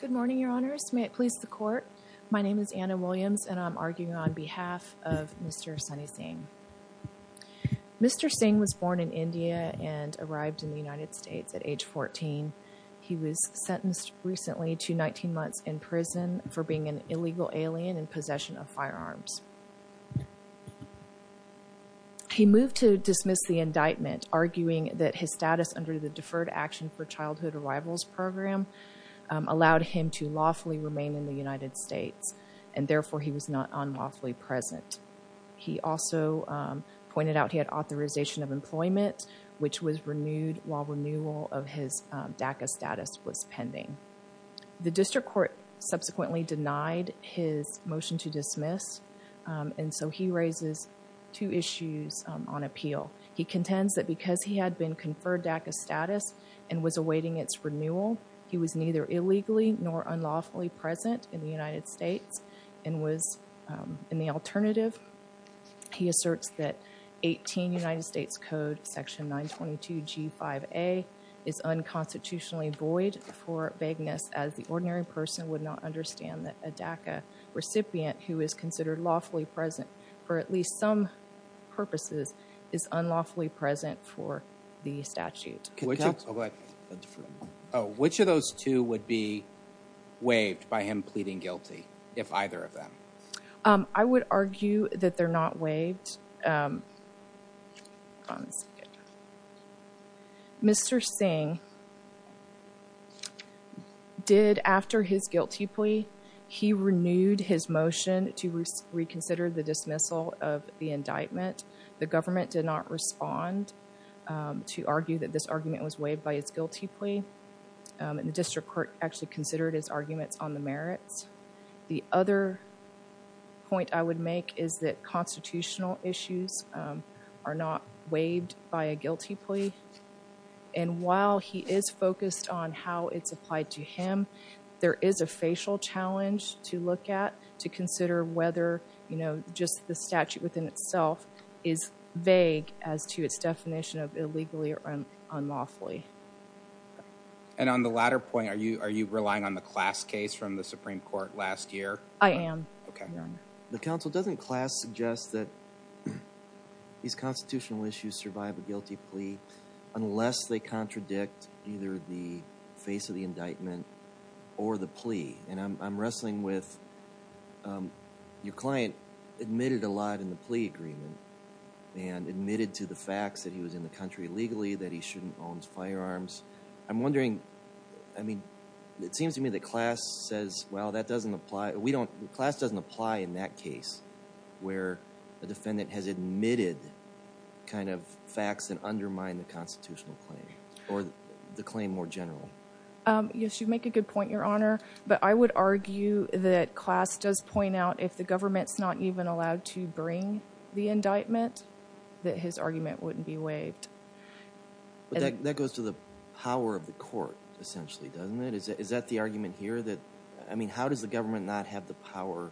Good morning, your honors. May it please the court. My name is Anna Williams and I'm arguing on behalf of Mr. Sunny Singh. Mr. Singh was born in India and arrived in the United States at age 14. He was sentenced recently to 19 months in prison for being an illegal alien in possession of firearms. He moved to dismiss the indictment, arguing that his status under the Deferred Action for Childhood Arrivals Program allowed him to lawfully remain in the United States, and therefore he was not unlawfully present. He also pointed out he had authorization of employment, which was renewed while renewal of his DACA status was pending. The district court subsequently denied his motion to dismiss, and so he raises two awaiting its renewal. He was neither illegally nor unlawfully present in the United States and was in the alternative. He asserts that 18 United States Code section 922 G5A is unconstitutionally void for vagueness, as the ordinary person would not understand that a DACA recipient who is considered lawfully present for at least some purposes is unlawfully present for the statute. Which of those two would be waived by him pleading guilty, if either of them? I would argue that they're not waived. Mr. Singh did, after his guilty plea, he renewed his motion to reconsider the dismissal of the indictment. The government did not respond to argue that this argument was waived by his guilty plea. The district court actually considered his arguments on the merits. The other point I would make is that constitutional issues are not waived by a guilty plea, and while he is focused on how it's applied to him, there is a facial challenge to look at to consider whether, you know, just the statute within itself is vague as to its definition of illegally or unlawfully. And on the latter point, are you relying on the class case from the Supreme Court last year? I am. Okay. The counsel doesn't class suggest that these constitutional issues survive a guilty plea unless they contradict either the face of the indictment or the plea. And I'm wrestling with your client admitted a lot in the plea agreement and admitted to the facts that he was in the country legally, that he shouldn't owns firearms. I'm wondering, I mean, it seems to me that class says, well, that doesn't apply. We don't, class doesn't apply in that case where a defendant has admitted kind of undermine the constitutional claim or the claim more general. Yes, you make a good point, Your Honor. But I would argue that class does point out if the government's not even allowed to bring the indictment, that his argument wouldn't be waived. That goes to the power of the court, essentially, doesn't it? Is that the argument here that, I mean, how does the government not have the power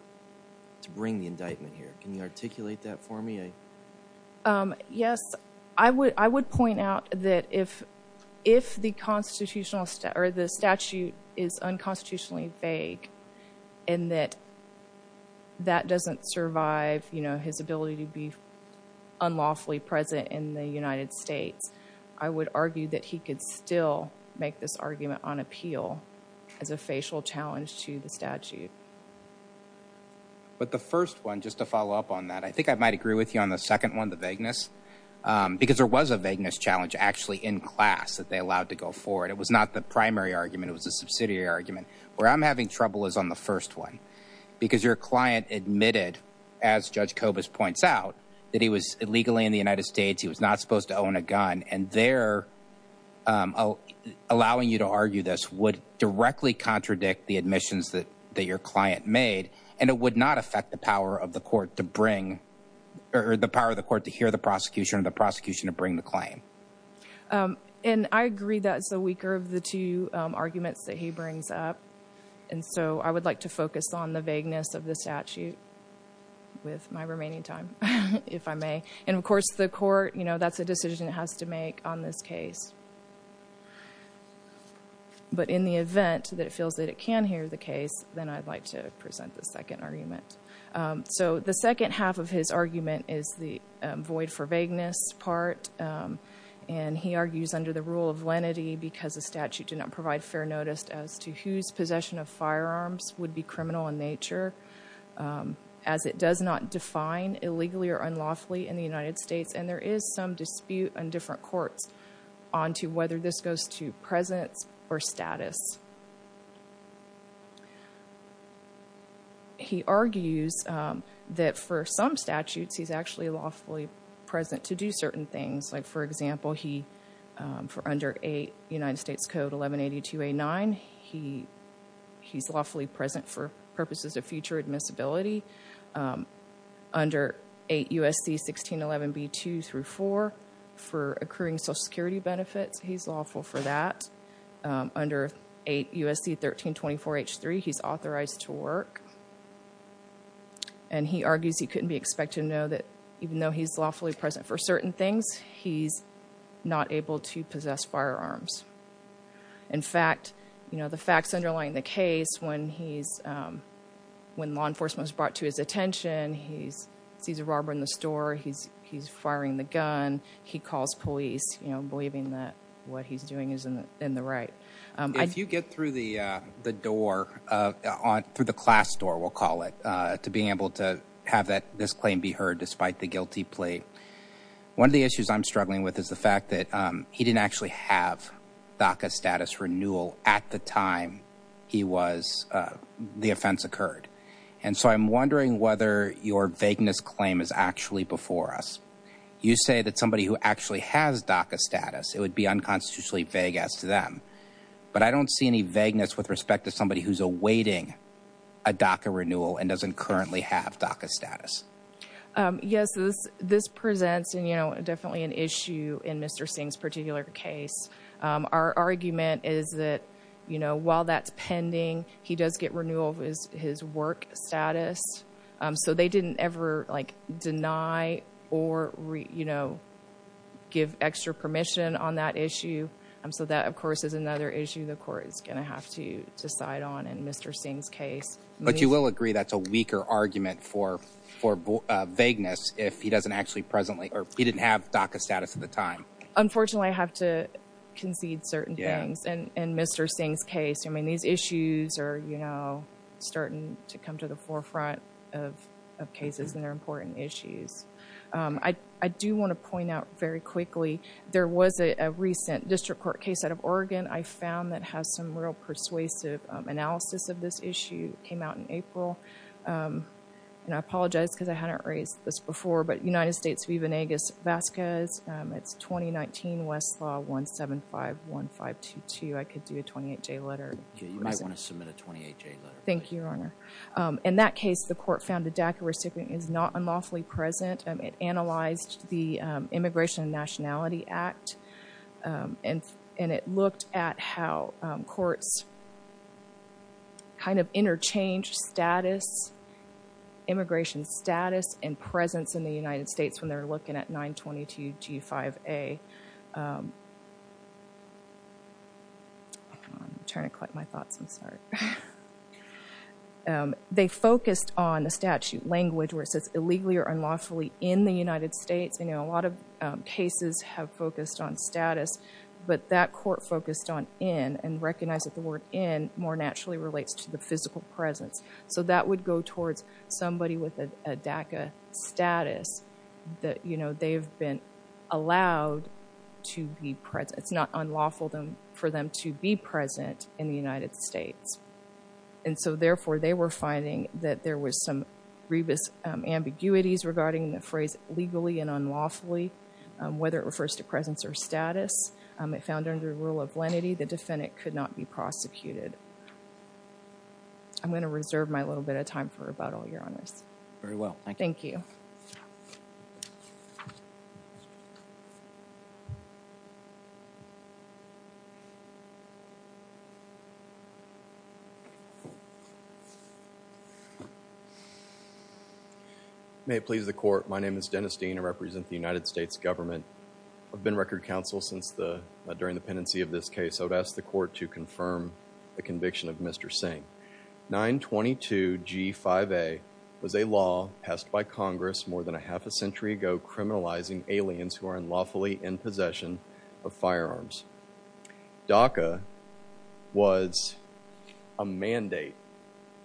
to bring the indictment here? Can you articulate that for me? Yes, I would point out that if the statute is unconstitutionally vague and that that doesn't survive, you know, his ability to be unlawfully present in the United States, I would argue that he could still make this argument on appeal as a facial challenge to the statute. But the first one, just to follow up on that, I think I might agree with you on the second one, the vagueness, because there was a vagueness challenge actually in class that they allowed to go forward. It was not the primary argument, it was a subsidiary argument. Where I'm having trouble is on the first one, because your client admitted, as Judge Kobus points out, that he was illegally in the United States, he was not allowing you to argue this would directly contradict the admissions that your client made, and it would not affect the power of the court to bring, or the power of the court to hear the prosecution or the prosecution to bring the claim. And I agree that's the weaker of the two arguments that he brings up, and so I would like to focus on the vagueness of the statute with my remaining time, if I may. And of course, it's a decision it has to make on this case. But in the event that it feels that it can hear the case, then I'd like to present the second argument. So the second half of his argument is the void for vagueness part, and he argues under the rule of lenity because the statute did not provide fair notice as to whose possession of firearms would be criminal in nature, as it does not define illegally or unlawfully in the United States, and there is some dispute in different courts on to whether this goes to presence or status. He argues that for some statutes, he's actually lawfully present to do certain things, like for example, for under United States Code 1182A9, he's lawfully present for purposes of future admissibility. Under 8 U.S.C. 1611B2-4 for accruing Social Security benefits, he's lawful for that. Under 8 U.S.C. 1324H3, he's authorized to work. And he argues he couldn't be expected to know that even though he's lawfully present for certain things, he's not able to possess firearms. In fact, you know, the facts underlying the case when he's, when law enforcement is brought to his attention, he sees a robber in the store, he's firing the gun, he calls police, you know, believing that what he's doing isn't in the right. If you get through the door, through the class door, we'll call it, to being able to have this claim be heard despite the guilty plea, one of the issues I'm struggling with is the fact that he didn't actually have DACA status renewal at the time he was, the offense occurred. And so I'm wondering whether your vagueness claim is actually before us. You say that somebody who actually has DACA status, it would be unconstitutionally vague as to them. But I don't see any vagueness with respect to somebody who's awaiting a DACA renewal and doesn't currently have DACA status. Yes, this presents, you know, definitely an issue in Mr. Singh's particular case. Our argument is that, you know, while that's pending, he does get renewal of his work status. So they didn't ever, like, deny or, you know, give extra permission on that issue. So that, of course, is another issue the court is going to have to decide on in Mr. Singh's case. But you will agree that's a weaker argument for vagueness if he doesn't actually presently, or he didn't have DACA status at the time. Unfortunately, I have to concede certain things in Mr. Singh's case. I mean, these issues are, you know, starting to come to the forefront of cases and they're important issues. I do want to point out very quickly, there was a recent district court case out of Oregon, I found that has some real persuasive analysis of this issue. It came out in April. And I apologize because I hadn't raised this before, but United States v. Venegas-Vasquez. It's 2019 Westlaw 1751522. I could do a 28-J letter. You might want to submit a 28-J letter. Thank you, Your Honor. In that case, the court found the DACA recipient is not unlawfully present. It analyzed the Immigration and Nationality Act, and it looked at how courts kind of interchange status, immigration status, and presence in the United States when they're looking at 922G5A. They focused on the statute language where it says illegally or unlawfully in the United States. You know, a lot of cases have focused on status, but that court focused on in and recognized that the word in more naturally relates to the physical presence. So that would go towards somebody with a DACA status that, you know, they've been allowed to be present. It's not unlawful for them to be present in the United States. And so therefore, they were finding that there was some grievous ambiguities regarding the phrase legally and unlawfully, whether it refers to presence or status. It found under the rule of lenity, the defendant could not be prosecuted. I'm going to reserve my little bit of time for about all your honors. Very well. Thank you. May it please the court. My name is Dennis Dean. I represent the United States government. I've been record counsel since the, during the pendency of this case. I would ask the court to confirm the conviction of Mr. Singh. 922G5A was a law passed by Congress more than a half a century ago, criminalizing aliens who are unlawfully in possession of firearms. DACA was a mandate,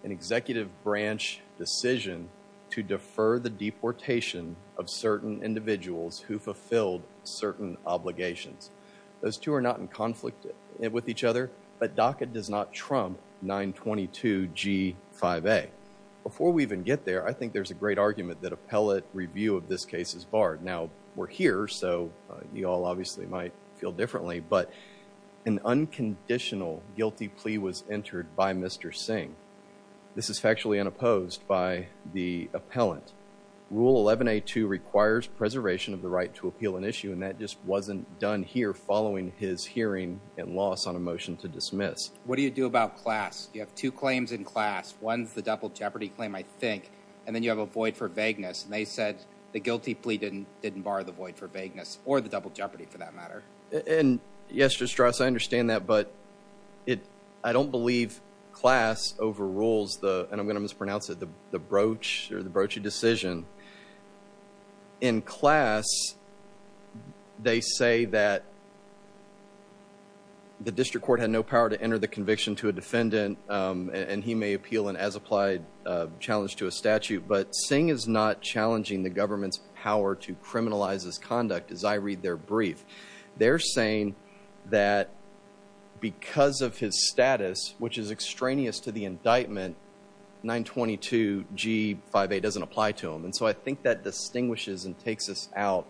an executive branch decision to defer the deportation of certain individuals who fulfilled certain obligations. Those two are not in conflict with each other, but DACA does not trump 922G5A. Before we even get there, I think there's a great argument that appellate review of this case is barred. Now we're here, so you all obviously might feel differently, but an unconditional guilty plea was entered by Mr. Singh. This is factually unopposed by the appellant. Rule 11A2 requires preservation of the right to appeal an issue, and that just wasn't done here following his hearing and loss on a motion to dismiss. What do you do about class? You have two claims in class. One's the double jeopardy claim, I think, and then you have a void for vagueness. And they said the guilty plea didn't didn't bar the void for vagueness or the double jeopardy for that matter. And yes, Mr. Strauss, I understand that, but I don't believe class overrules the, and I'm going to mispronounce it, the broach or the broachy decision. In class, they say that the district court had no power to enter the conviction to a defendant, and he may appeal an as-applied challenge to a statute. But Singh is not challenging the government's power to criminalize his conduct, as I read their brief. They're saying that because of his status, which is extraneous to the indictment, 922 G5A doesn't apply to him. And so I think that distinguishes and takes us out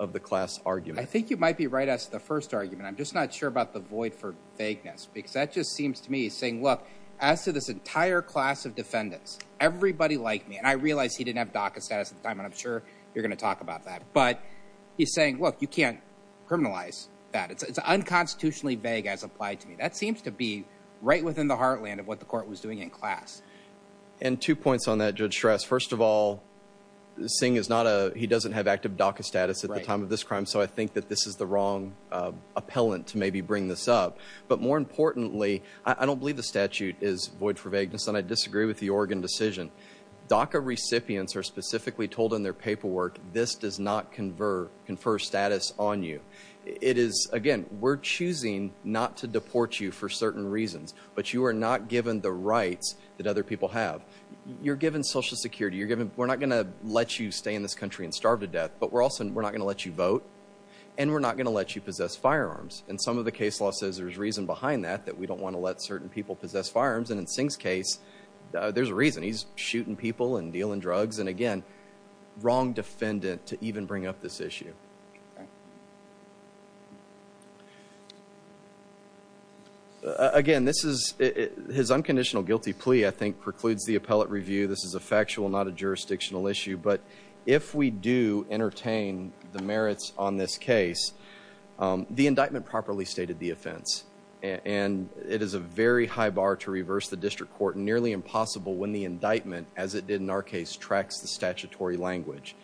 of the class argument. I think you might be right as the first argument. I'm just not sure about the void for vagueness, because that just seems to me saying, as to this entire class of defendants, everybody liked me. And I realize he didn't have DACA status at the time, and I'm sure you're going to talk about that. But he's saying, look, you can't criminalize that. It's unconstitutionally vague as applied to me. That seems to be right within the heartland of what the court was doing in class. And two points on that, Judge Strauss. First of all, Singh is not a, he doesn't have active DACA status at the time of this crime. So I think that this is the wrong appellant to maybe bring this up. But more importantly, I don't believe the statute is void for vagueness. And I disagree with the Oregon decision. DACA recipients are specifically told in their paperwork, this does not confer status on you. It is, again, we're choosing not to deport you for certain reasons. But you are not given the rights that other people have. You're given social security. You're given, we're not going to let you stay in this country and starve to death. But we're also, we're not going to let you vote. And we're not going to let you possess firearms. And some of the case law says there's reason behind that, that we don't want to let certain people possess firearms. And in Singh's case, there's a reason. He's shooting people and dealing drugs. And again, wrong defendant to even bring up this issue. Again, this is, his unconditional guilty plea, I think, precludes the appellate review. This is a factual, not a jurisdictional issue. But if we do entertain the merits on this case, the indictment properly stated the offense. And it is a very high bar to reverse the district court, nearly impossible when the indictment, as it did in our case, tracks the statutory language.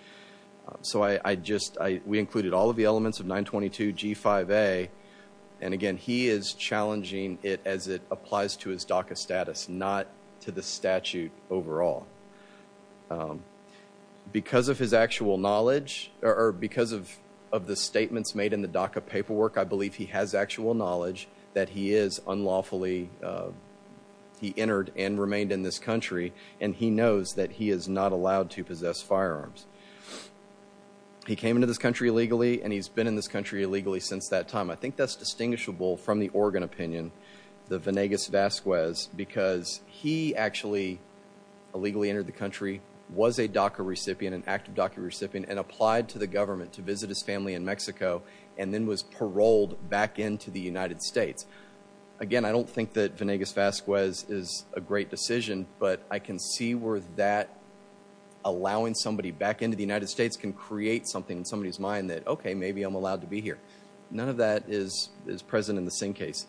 So I just, we included all of the elements of 922 G5A. And again, he is challenging it as it applies to his DACA status, not to the statute overall. Because of his actual knowledge, or because of the statements made in the DACA paperwork, I believe he has actual knowledge that he is unlawfully, he entered and remained in this country, and he knows that he is not allowed to possess firearms. He came into this country illegally, and he's been in this country illegally since that time. I think that's distinguishable from the Oregon opinion, the Vanegas-Vasquez, because he actually illegally entered the country, was a DACA recipient, an active DACA recipient, and applied to the government to visit his family in Mexico, and then was paroled back into the United States. Again, I don't think that Vanegas-Vasquez is a great decision, but I can see where that allowing somebody back into the United States can create something in somebody's mind that, okay, maybe I'm allowed to be here. None of that is present in the Singh case.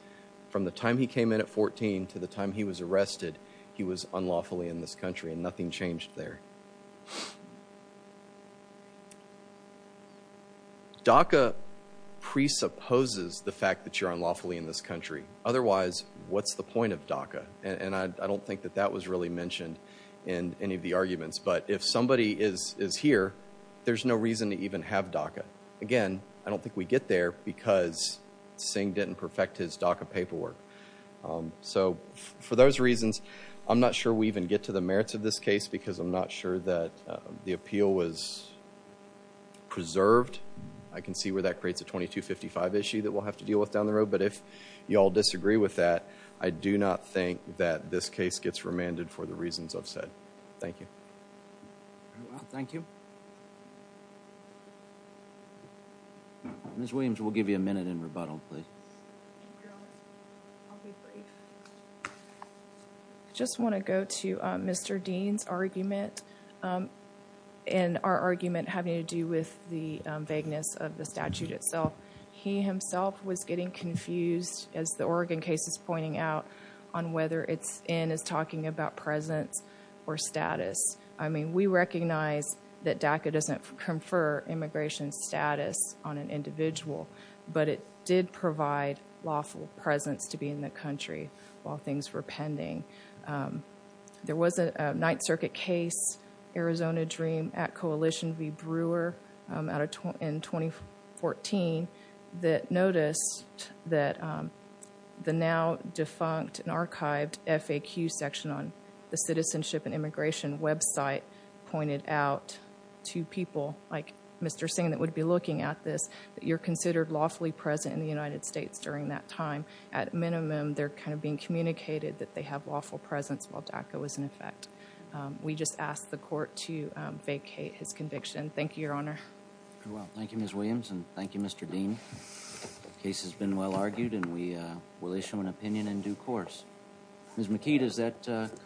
From the time he came in at 14 to the time he was arrested, he was unlawfully in this country, and nothing changed there. DACA presupposes the fact that you're unlawfully in this country. Otherwise, what's the point of DACA? And I don't think that that was really mentioned in any of the arguments. But if somebody is here, there's no reason to even have DACA. Again, I don't think we get there because Singh didn't perfect his DACA paperwork. So for those reasons, I'm not sure we even get to the merits of this case, because I'm not sure that the appeal was preserved. I can see where that creates a 2255 issue that we'll have to deal with down the road. But if you all disagree with that, I do not think that this case gets remanded for the reasons I've said. Thank you. Thank you. Ms. Williams, we'll give you a minute in rebuttal, please. I just want to go to Mr. Dean's argument, and our argument having to do with the vagueness of the statute itself. He himself was getting confused, as the Oregon case is pointing out, on whether it's in his talking about presence or status. We recognize that DACA doesn't confer immigration status on an individual, but it did provide lawful presence to be in the country while things were pending. There was a Ninth Circuit case, Arizona Dream at Coalition v. Brewer in 2014, that noticed that the now defunct and archived FAQ section on the Citizenship and Immigration website pointed out to people, like Mr. Singh that would be looking at this, that you're considered lawfully present in the United States during that time. At minimum, they're kind of being communicated that they have lawful presence while DACA was in effect. We just ask the court to vacate his conviction. Thank you, Your Honor. Very well. Thank you, Ms. Williams, and thank you, Mr. Dean. The case has been well argued, and we will issue an opinion in due course. Ms. McKeith, is that complete?